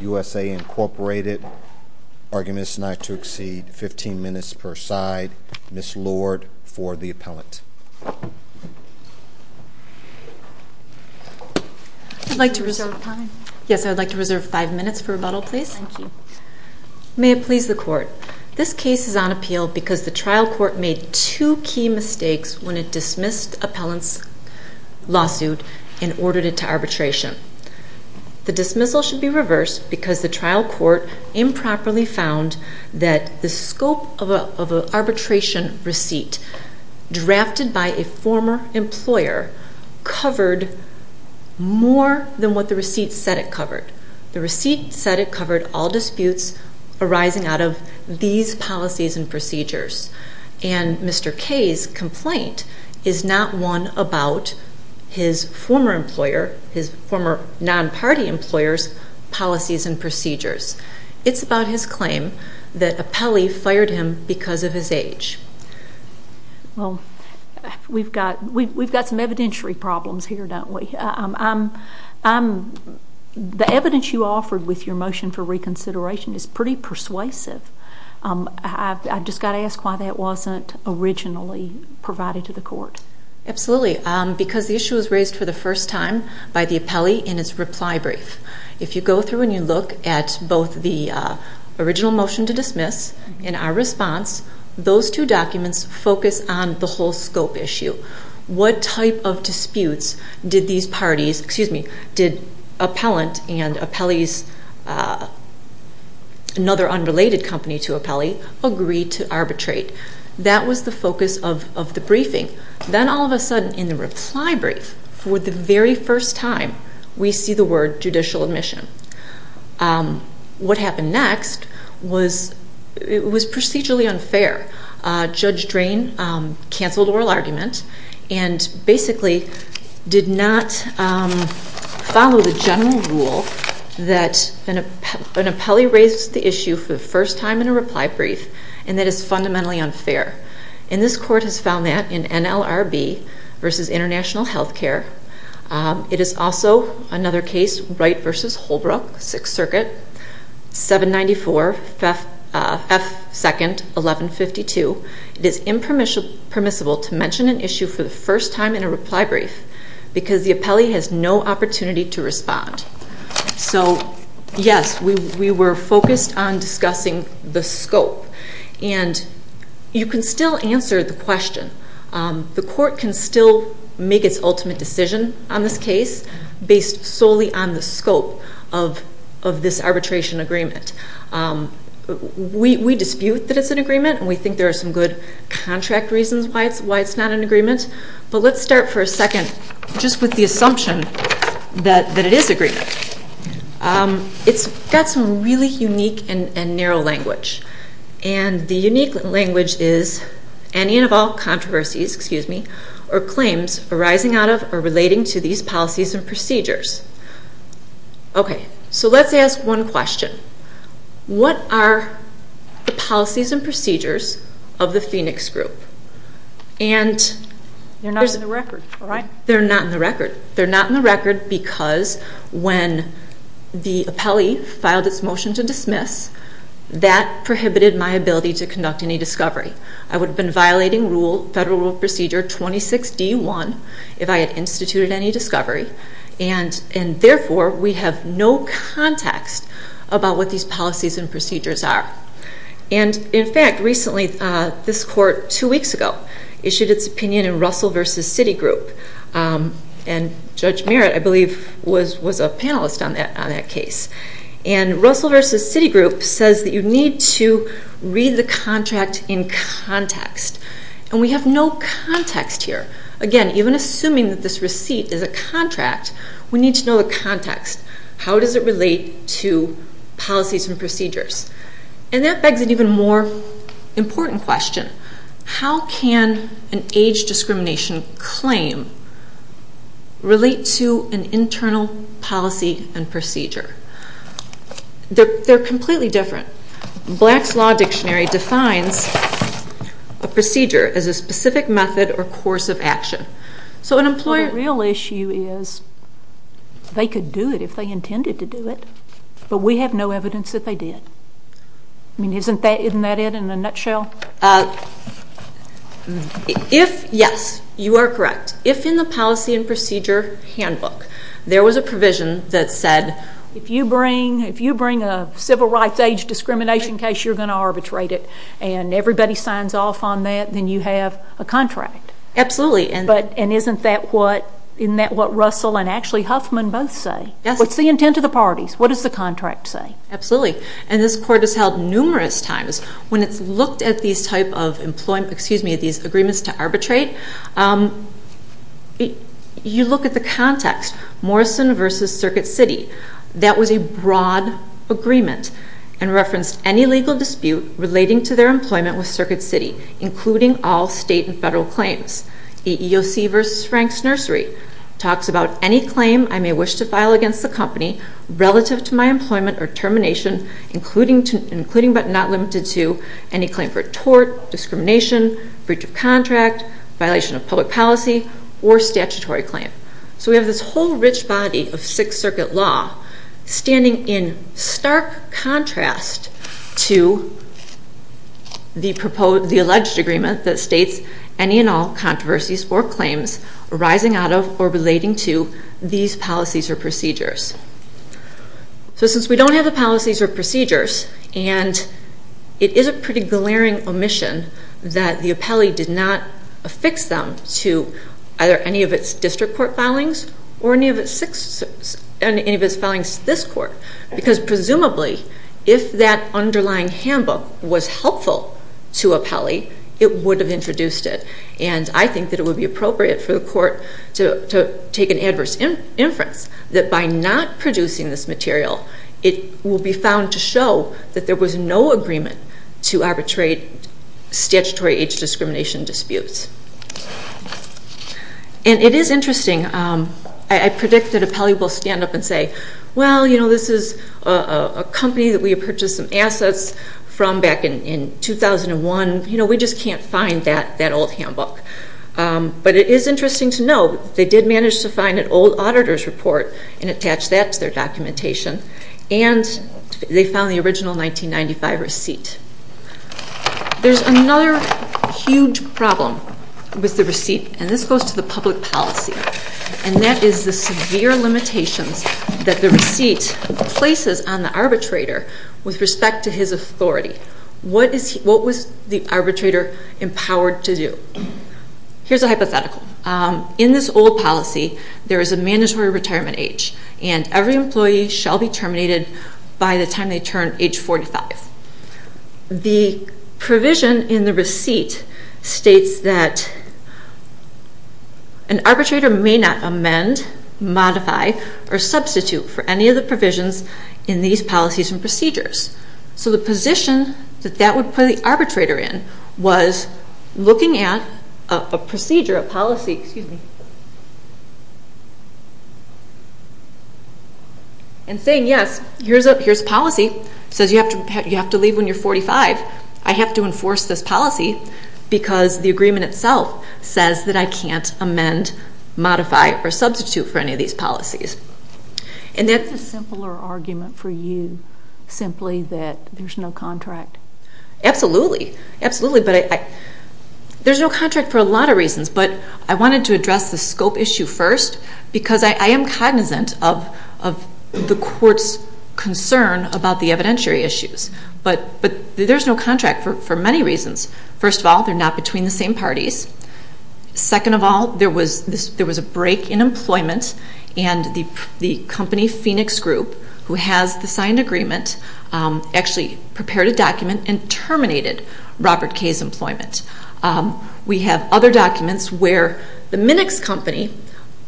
U.S.A. Incorporated. Argument is not to exceed 15 minutes per side. Ms. Lord for the appellant. I'd like to reserve five minutes for rebuttal, please. Thank you. May it please the court. This case is on appeal because the trial court made two key mistakes when it dismissed appellant's lawsuit and ordered it to arbitration. The dismissal should be reversed because the trial court improperly found that the scope of an arbitration receipt drafted by a former employer covered more than what the receipt said it covered. The receipt said it covered all disputes arising out of these policies and procedures. And Mr. Kay's complaint is not one about his former employer, his former non-party employer's policies and procedures. It's about his claim that appellee fired him because of his age. Well, we've got some evidentiary problems here, don't we? The evidence you offered with your motion for reconsideration is pretty persuasive. I've just got to ask why that wasn't originally provided to the court. Absolutely. Because the issue was raised for the first time by the appellee in its reply brief. If you go through and you look at both the original motion to dismiss and our response, those two documents focus on the whole scope issue. What type of disputes did appellant and another unrelated company to appellee agree to arbitrate? That was the focus of the briefing. Then all of a sudden in the reply brief, for the very first time, we see the word judicial admission. What happened next was procedurally unfair. Judge Drain canceled oral argument and basically did not follow the general rule that an appellee raised the issue for the first time in a reply brief and that it's fundamentally unfair. This court has found that in NLRB v. International Healthcare. It is also another case, Wright v. Holbrook, Sixth Circuit, 794 F. 2nd, 1152. It is impermissible to mention an issue for the first time in a reply brief because the appellee has no opportunity to respond. Yes, we were focused on discussing the scope. You can still answer the question. The court can still make its ultimate decision on this case based solely on the scope of this arbitration agreement. We dispute that it's an agreement and we think there are some good contract reasons why it's not an agreement, but let's start for a second just with the assumption that it is an agreement. It's got some really unique and narrow language. The unique language is any and all controversies or claims arising out of or relating to these policies and procedures. Okay, so let's ask one question. What are the policies and procedures of the Phoenix Group? They're not in the record. They're not in the record. They're not in the record because when the appellee filed its motion to dismiss, that prohibited my ability to conduct any discovery. I would have been violating Federal Rule Procedure 26D1 if I had instituted any discovery, and therefore, we have no context about what these policies and procedures are. And in fact, recently, this court, two weeks ago, issued its opinion in Russell v. Citigroup, and Judge Merritt, I believe, was a panelist on that case. And Russell v. Citigroup says that you need to read the contract in context, and we have no context here. Again, even assuming that this receipt is a contract, we need to know the context. How does it relate to policies and procedures? And that begs an even more important question. How can an age discrimination claim relate to an internal policy and procedure? They're completely different. Black's Law Dictionary defines a procedure as a specific method or course of action. So an employer... Well, the real issue is they could do it if they intended to do it, but we have no evidence that they did. Isn't that it in a nutshell? Yes, you are correct. If in the policy and procedure handbook, there was a provision that said... If you bring a civil rights age discrimination case, you're going to arbitrate it, and everybody signs off on that, then you have a contract. Absolutely. And isn't that what Russell and actually Huffman both say? Yes. What's the intent of the parties? What does the contract say? Absolutely. And this court has held numerous times. When it's looked at these agreements to arbitrate, you look at the context. Morrison v. Circuit City. That was a broad agreement and referenced any legal dispute relating to their employment with Circuit City, including all state and federal claims. EEOC v. Franks Nursery talks about any claim I may wish to file against the company relative to my employment or termination, including but not limited to any claim for tort, discrimination, breach of contract, violation of public policy, or statutory claim. So we have this whole rich body of Sixth Circuit law standing in stark contrast to the alleged agreement that states any and all controversies or claims arising out of or relating to these policies or procedures. So since we don't have the policies or procedures, and it is a pretty glaring omission that the appellee did not affix them to either any of its district court filings or any of its filings to this court, because presumably if that underlying handbook was helpful to appellee, it would have introduced it. And I think that it would be appropriate for the court to take an adverse inference that by not producing this material, it will be found to show that there was no agreement to arbitrate statutory age discrimination disputes. And it is interesting. I predict that appellee will stand up and say, well, you know, this is a company that we purchased some assets from back in 2001. You know, we just can't find that old handbook. But it is interesting to note they did manage to find an old auditor's report and attach that to their documentation. And they found the original 1995 receipt. There's another huge problem with the receipt, and this goes to the public policy. And that is the severe limitations that the receipt places on the arbitrator with respect to his authority. What was the arbitrator empowered to do? Here's a hypothetical. In this old policy, there is a mandatory retirement age, and every employee shall be terminated by the time they turn age 45. The provision in the receipt states that an arbitrator may not amend, modify, or substitute for any of the provisions in these policies and procedures. So the position that that would put the arbitrator in was looking at a procedure, a policy, excuse me, and saying yes, here's policy. It says you have to leave when you're 45. I have to enforce this policy because the agreement itself says that I can't amend, modify, or substitute for any of these policies. And that's a simpler argument for you simply that there's no contract. Absolutely. Absolutely. But there's no contract for a lot of reasons, but I wanted to address the scope issue first because I am cognizant of the court's concern about the evidentiary issues. But there's no contract for many reasons. First of all, they're not between the same parties. Second of all, there was a break in employment, and the company Phoenix Group, who has the signed agreement, actually prepared a document and terminated Robert K's employment. We have other documents where the Minix company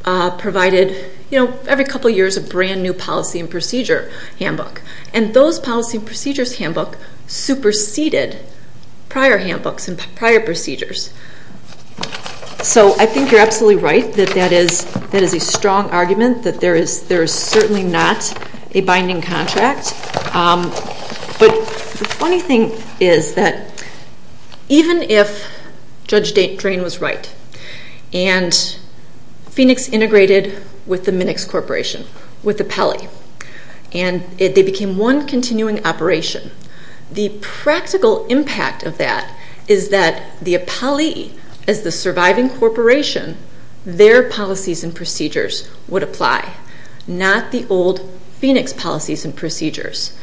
provided every couple of years a brand-new policy and procedure handbook, and those policy and procedures handbook superseded prior handbooks and prior procedures. So I think you're absolutely right that that is a strong argument, that there is certainly not a binding contract. But the funny thing is that even if Judge Drain was right and Phoenix integrated with the Minix Corporation, with Appelli, and they became one continuing operation, the practical impact of that is that the Appelli, as the surviving corporation, their policies and procedures would apply, not the old Phoenix policies and procedures.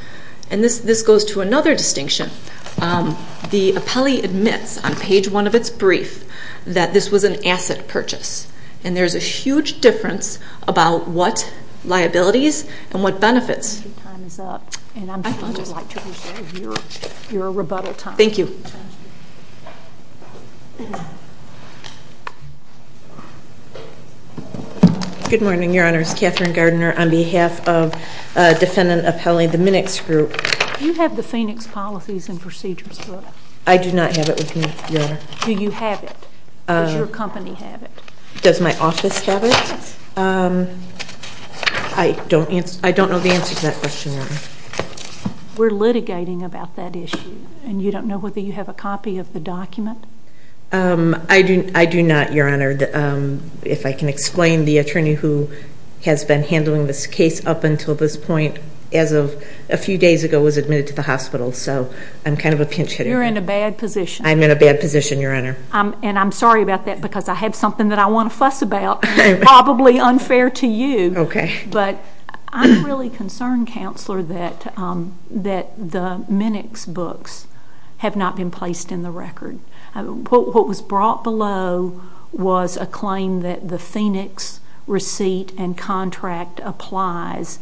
And this goes to another distinction. The Appelli admits on page one of its brief that this was an asset purchase, and there's a huge difference about what liabilities and what benefits. Your time is up, and I would like to appreciate your rebuttal time. Thank you. Good morning, Your Honors. Katherine Gardner on behalf of Defendant Appelli of the Minix Group. Do you have the Phoenix policies and procedures? I do not have it with me, Your Honor. Do you have it? Does your company have it? Does my office have it? I don't know the answer to that question, Your Honor. We're litigating about that issue, and you don't know whether you have a copy of the document? I do not, Your Honor. If I can explain, the attorney who has been handling this case up until this point, as of a few days ago, was admitted to the hospital. So I'm kind of a pinch hitter. You're in a bad position. I'm in a bad position, Your Honor. And I'm sorry about that because I have something that I want to fuss about, probably unfair to you. Okay. But I'm really concerned, Counselor, that the Minix books have not been placed in the record. What was brought below was a claim that the Phoenix receipt and contract applies,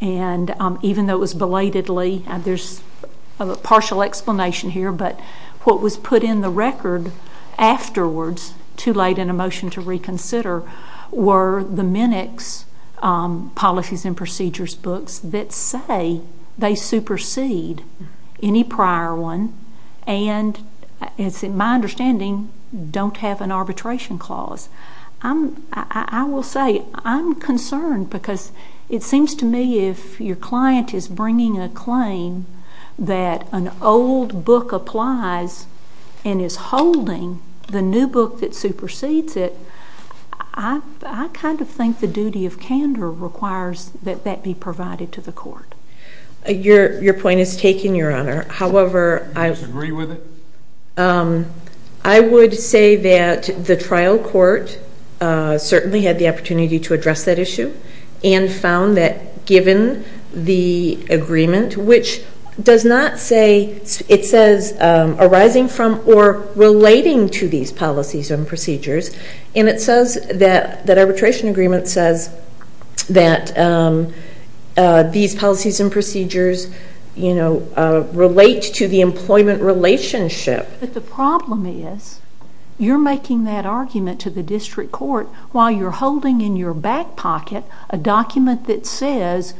and even though it was belatedly, there's a partial explanation here, but what was put in the record afterwards, too late in a motion to reconsider, were the Minix policies and procedures books that say they supersede any prior one and, it's my understanding, don't have an arbitration clause. I will say I'm concerned because it seems to me if your client is bringing a claim that an old book applies and is holding the new book that supersedes it, I kind of think the duty of candor requires that that be provided to the court. Your point is taken, Your Honor. However, I would say that the trial court certainly had the opportunity to address that issue and found that given the agreement, which does not say, it says arising from or relating to these policies and procedures, and it says that arbitration agreement says that these policies and procedures, you know, relate to the employment relationship. But the problem is you're making that argument to the district court while you're holding in your back pocket a document that says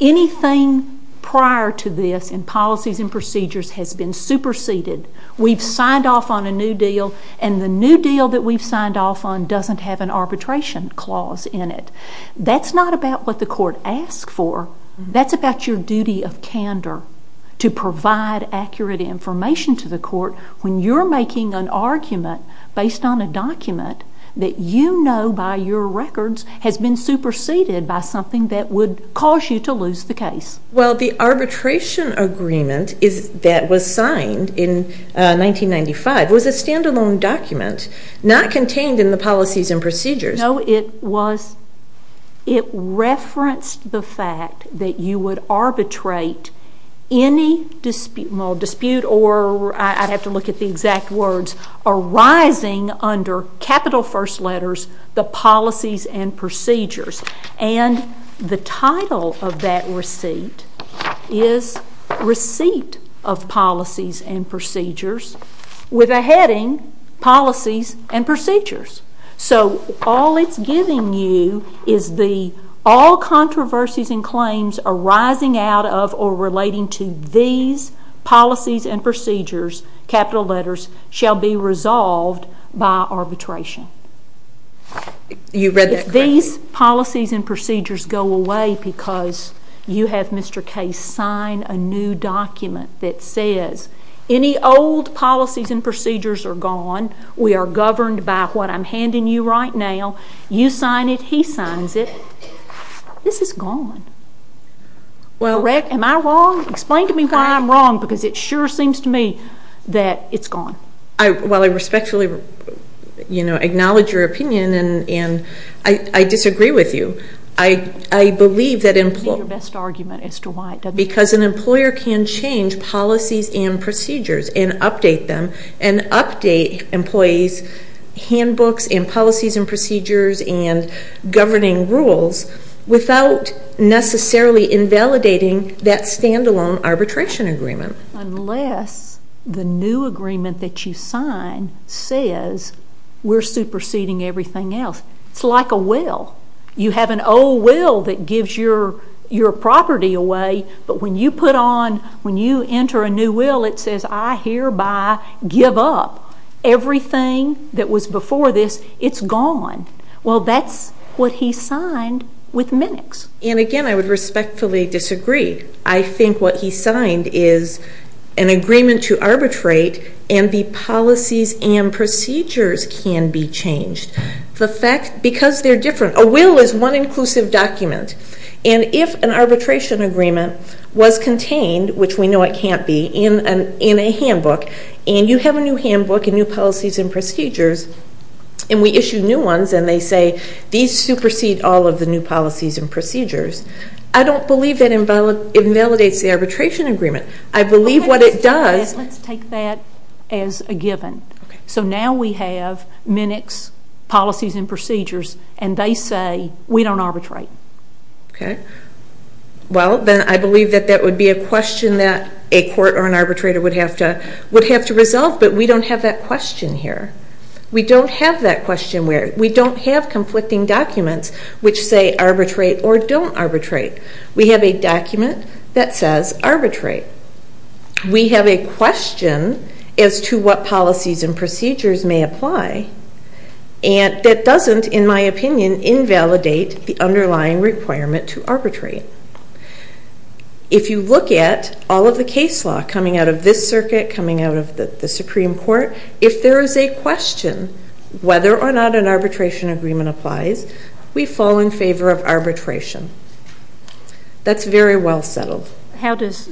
anything prior to this in policies and procedures has been superseded. We've signed off on a new deal, and the new deal that we've signed off on doesn't have an arbitration clause in it. That's not about what the court asked for. That's about your duty of candor to provide accurate information to the court when you're making an argument based on a document that you know by your records has been superseded by something that would cause you to lose the case. Well, the arbitration agreement that was signed in 1995 was a stand-alone document, not contained in the policies and procedures. No, it referenced the fact that you would arbitrate any dispute, or I'd have to look at the exact words, arising under capital first letters, the policies and procedures. And the title of that receipt is Receipt of Policies and Procedures with a heading Policies and Procedures. So all it's giving you is the all controversies and claims arising out of or relating to these policies and procedures, capital letters, shall be resolved by arbitration. You read that correctly. If these policies and procedures go away because you have Mr. Case sign a new document that says any old policies and procedures are gone, we are governed by what I'm handing you right now, you sign it, he signs it, this is gone. Am I wrong? Explain to me why I'm wrong because it sure seems to me that it's gone. While I respectfully acknowledge your opinion and I disagree with you, I believe that employers can change policies and procedures and update them and update employees' handbooks and policies and procedures and governing rules without necessarily invalidating that stand-alone arbitration agreement. Unless the new agreement that you sign says we're superseding everything else. It's like a will. You have an old will that gives your property away, but when you put on, when you enter a new will, it says I hereby give up. Everything that was before this, it's gone. Well, that's what he signed with Minix. And again, I would respectfully disagree. I think what he signed is an agreement to arbitrate and the policies and procedures can be changed because they're different. A will is one inclusive document. And if an arbitration agreement was contained, which we know it can't be, in a handbook and you have a new handbook and new policies and procedures and we issue new ones and they say these supersede all of the new policies and procedures, I don't believe that invalidates the arbitration agreement. I believe what it does. Let's take that as a given. So now we have Minix policies and procedures and they say we don't arbitrate. Okay. Well, then I believe that that would be a question that a court or an arbitrator would have to resolve, but we don't have that question here. We don't have that question where we don't have conflicting documents which say arbitrate or don't arbitrate. We have a document that says arbitrate. We have a question as to what policies and procedures may apply and that doesn't, in my opinion, invalidate the underlying requirement to arbitrate. If you look at all of the case law coming out of this circuit, coming out of the Supreme Court, if there is a question whether or not an arbitration agreement applies, we fall in favor of arbitration. That's very well settled. How does,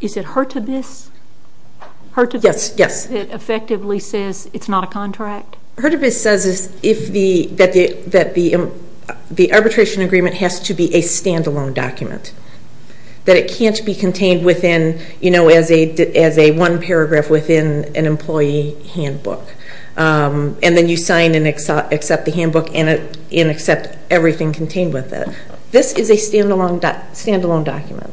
is it her to this? Her to this? Yes, yes. Because it effectively says it's not a contract? Her to this says that the arbitration agreement has to be a stand-alone document, that it can't be contained as a one paragraph within an employee handbook, and then you sign and accept the handbook and accept everything contained with it. This is a stand-alone document.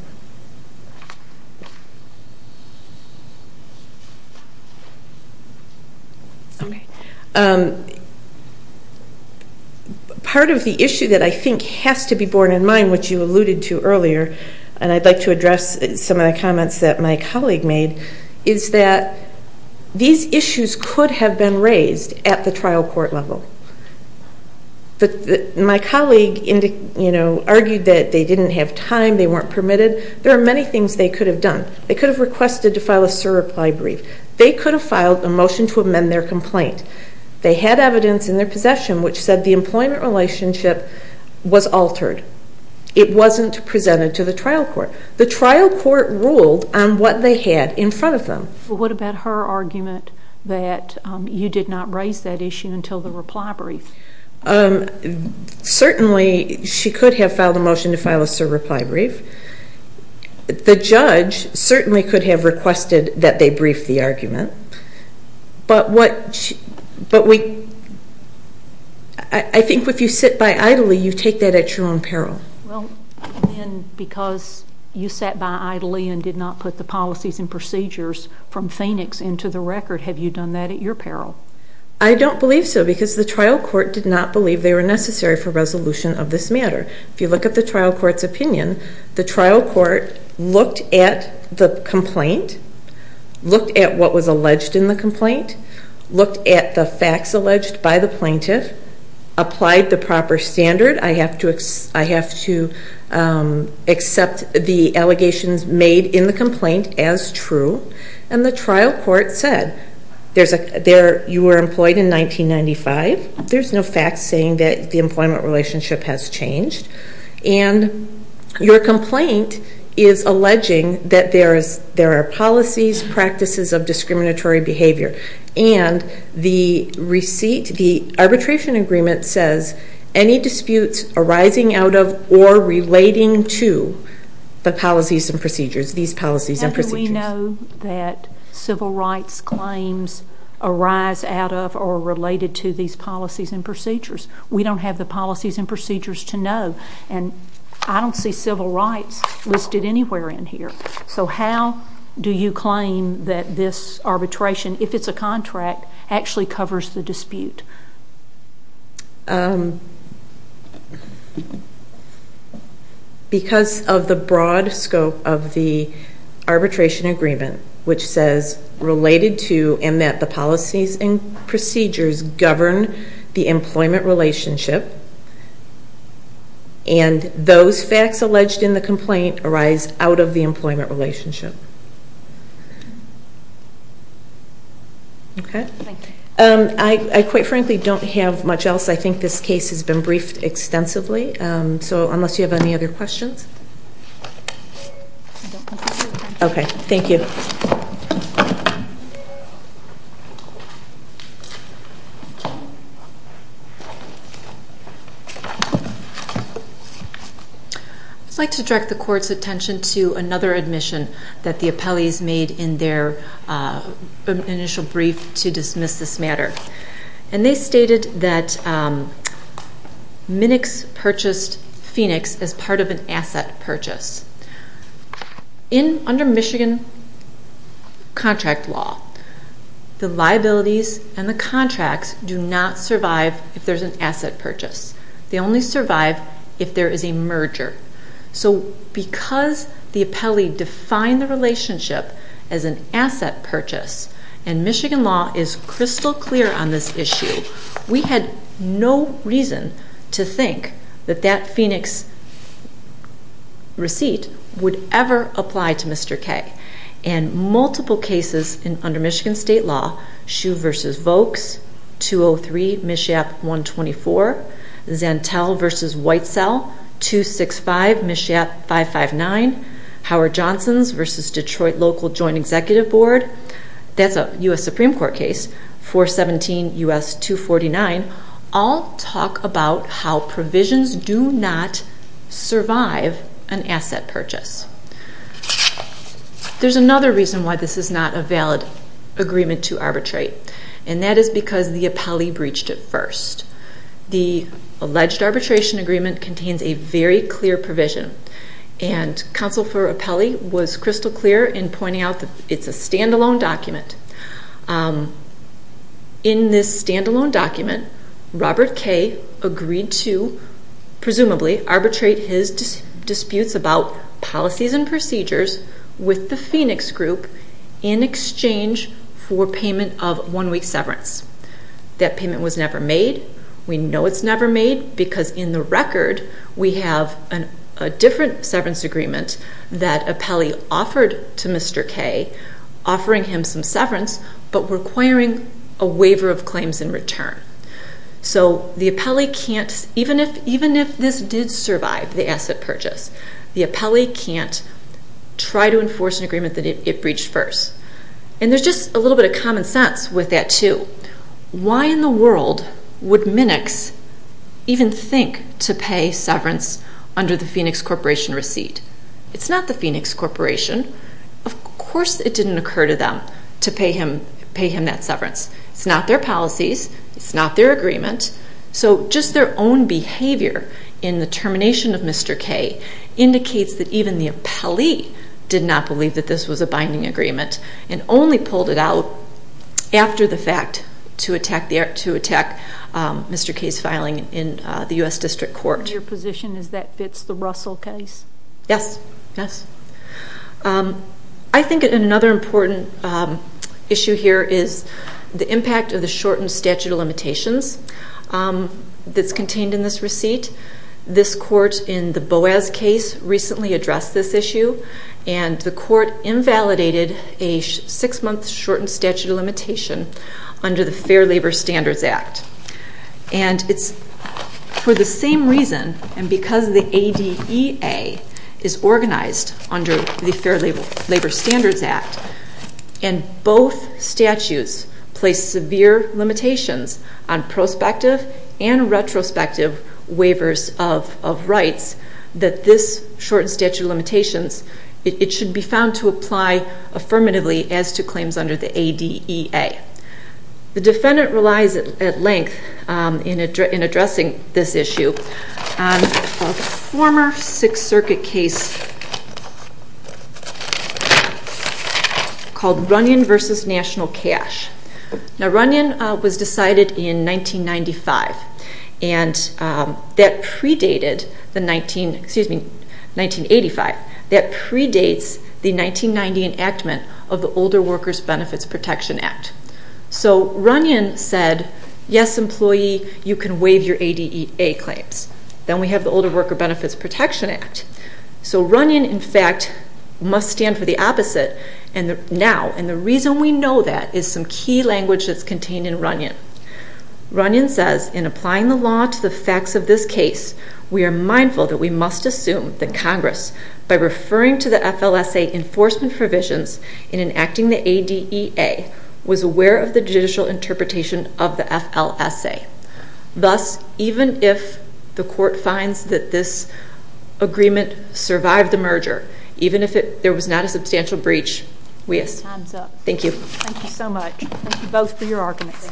Okay. Part of the issue that I think has to be borne in mind, which you alluded to earlier, and I'd like to address some of the comments that my colleague made, is that these issues could have been raised at the trial court level. But my colleague argued that they didn't have time, they weren't permitted. There are many things they could have done. They could have requested to file a SIR reply brief. They could have filed a motion to amend their complaint. They had evidence in their possession which said the employment relationship was altered. It wasn't presented to the trial court. The trial court ruled on what they had in front of them. What about her argument that you did not raise that issue until the reply brief? Certainly she could have filed a motion to file a SIR reply brief. The judge certainly could have requested that they brief the argument. But I think if you sit by idly, you take that at your own peril. Well, then, because you sat by idly and did not put the policies and procedures from Phoenix into the record, have you done that at your peril? I don't believe so because the trial court did not believe they were necessary for resolution of this matter. If you look at the trial court's opinion, the trial court looked at the complaint, looked at what was alleged in the complaint, looked at the facts alleged by the plaintiff, applied the proper standard. I have to accept the allegations made in the complaint as true. And the trial court said, you were employed in 1995. There's no facts saying that the employment relationship has changed. And your complaint is alleging that there are policies, practices of discriminatory behavior, and the arbitration agreement says any disputes arising out of or relating to the policies and procedures, these policies and procedures. We know that civil rights claims arise out of or related to these policies and procedures. We don't have the policies and procedures to know. And I don't see civil rights listed anywhere in here. So how do you claim that this arbitration, if it's a contract, actually covers the dispute? Because of the broad scope of the arbitration agreement, which says related to and that the policies and procedures govern the employment relationship, and those facts alleged in the complaint arise out of the employment relationship. Okay. I, quite frankly, don't have much else. I think this case has been briefed extensively. So unless you have any other questions. Okay. Thank you. I'd like to direct the court's attention to another admission that the appellees made in their initial brief to dismiss this matter. And they stated that Minix purchased Phoenix as part of an asset purchase. Under Michigan contract law, the liabilities and the contracts do not survive if there's an asset purchase. They only survive if there is a merger. So because the appellee defined the relationship as an asset purchase, and Michigan law is crystal clear on this issue, we had no reason to think that that Phoenix receipt would ever apply to Mr. K. And multiple cases under Michigan state law, Schuh v. Vokes, 203 Mishap 124, Zantel v. Whitesell, 265 Mishap 559, Howard-Johnson v. Detroit Local Joint Executive Board, that's a U.S. Supreme Court case, 417 U.S. 249, all talk about how provisions do not survive an asset purchase. There's another reason why this is not a valid agreement to arbitrate, and that is because the appellee breached it first. The alleged arbitration agreement contains a very clear provision, and counsel for appellee was crystal clear in pointing out that it's a standalone document. In this standalone document, Robert K. agreed to, presumably, arbitrate his disputes about policies and procedures with the Phoenix group in exchange for payment of one-week severance. That payment was never made. We know it's never made because, in the record, we have a different severance agreement that appellee offered to Mr. K., offering him some severance but requiring a waiver of claims in return. So the appellee can't, even if this did survive the asset purchase, the appellee can't try to enforce an agreement that it breached first. And there's just a little bit of common sense with that, too. Why in the world would Minix even think to pay severance under the Phoenix Corporation receipt? It's not the Phoenix Corporation. Of course it didn't occur to them to pay him that severance. It's not their policies. It's not their agreement. So just their own behavior in the termination of Mr. K. indicates that even the appellee did not believe that this was a binding agreement and only pulled it out after the fact to attack Mr. K.'s filing in the U.S. District Court. Your position is that fits the Russell case? Yes, yes. I think another important issue here is the impact of the shortened statute of limitations that's contained in this receipt. This court in the Boas case recently addressed this issue, and the court invalidated a six-month shortened statute of limitation under the Fair Labor Standards Act. And it's for the same reason, and because the ADEA is organized under the Fair Labor Standards Act and both statutes place severe limitations on prospective and retrospective waivers of rights, that this shortened statute of limitations, it should be found to apply affirmatively as to claims under the ADEA. The defendant relies at length in addressing this issue on a former Sixth Circuit case called Runyon v. National Cash. Now Runyon was decided in 1995, and that predated the 19, excuse me, 1985. That predates the 1990 enactment of the Older Workers Benefits Protection Act. So Runyon said, yes, employee, you can waive your ADEA claims. Then we have the Older Worker Benefits Protection Act. So Runyon, in fact, must stand for the opposite now, and the reason we know that is some key language that's contained in Runyon. Runyon says, in applying the law to the facts of this case, we are mindful that we must assume that Congress, by referring to the FLSA enforcement provisions in enacting the ADEA, was aware of the judicial interpretation of the FLSA. Thus, even if the court finds that this agreement survived the merger, even if there was not a substantial breach, we assume. Time's up. Thank you. Thank you so much. Thank you both for your arguments. Thank you. Thank you.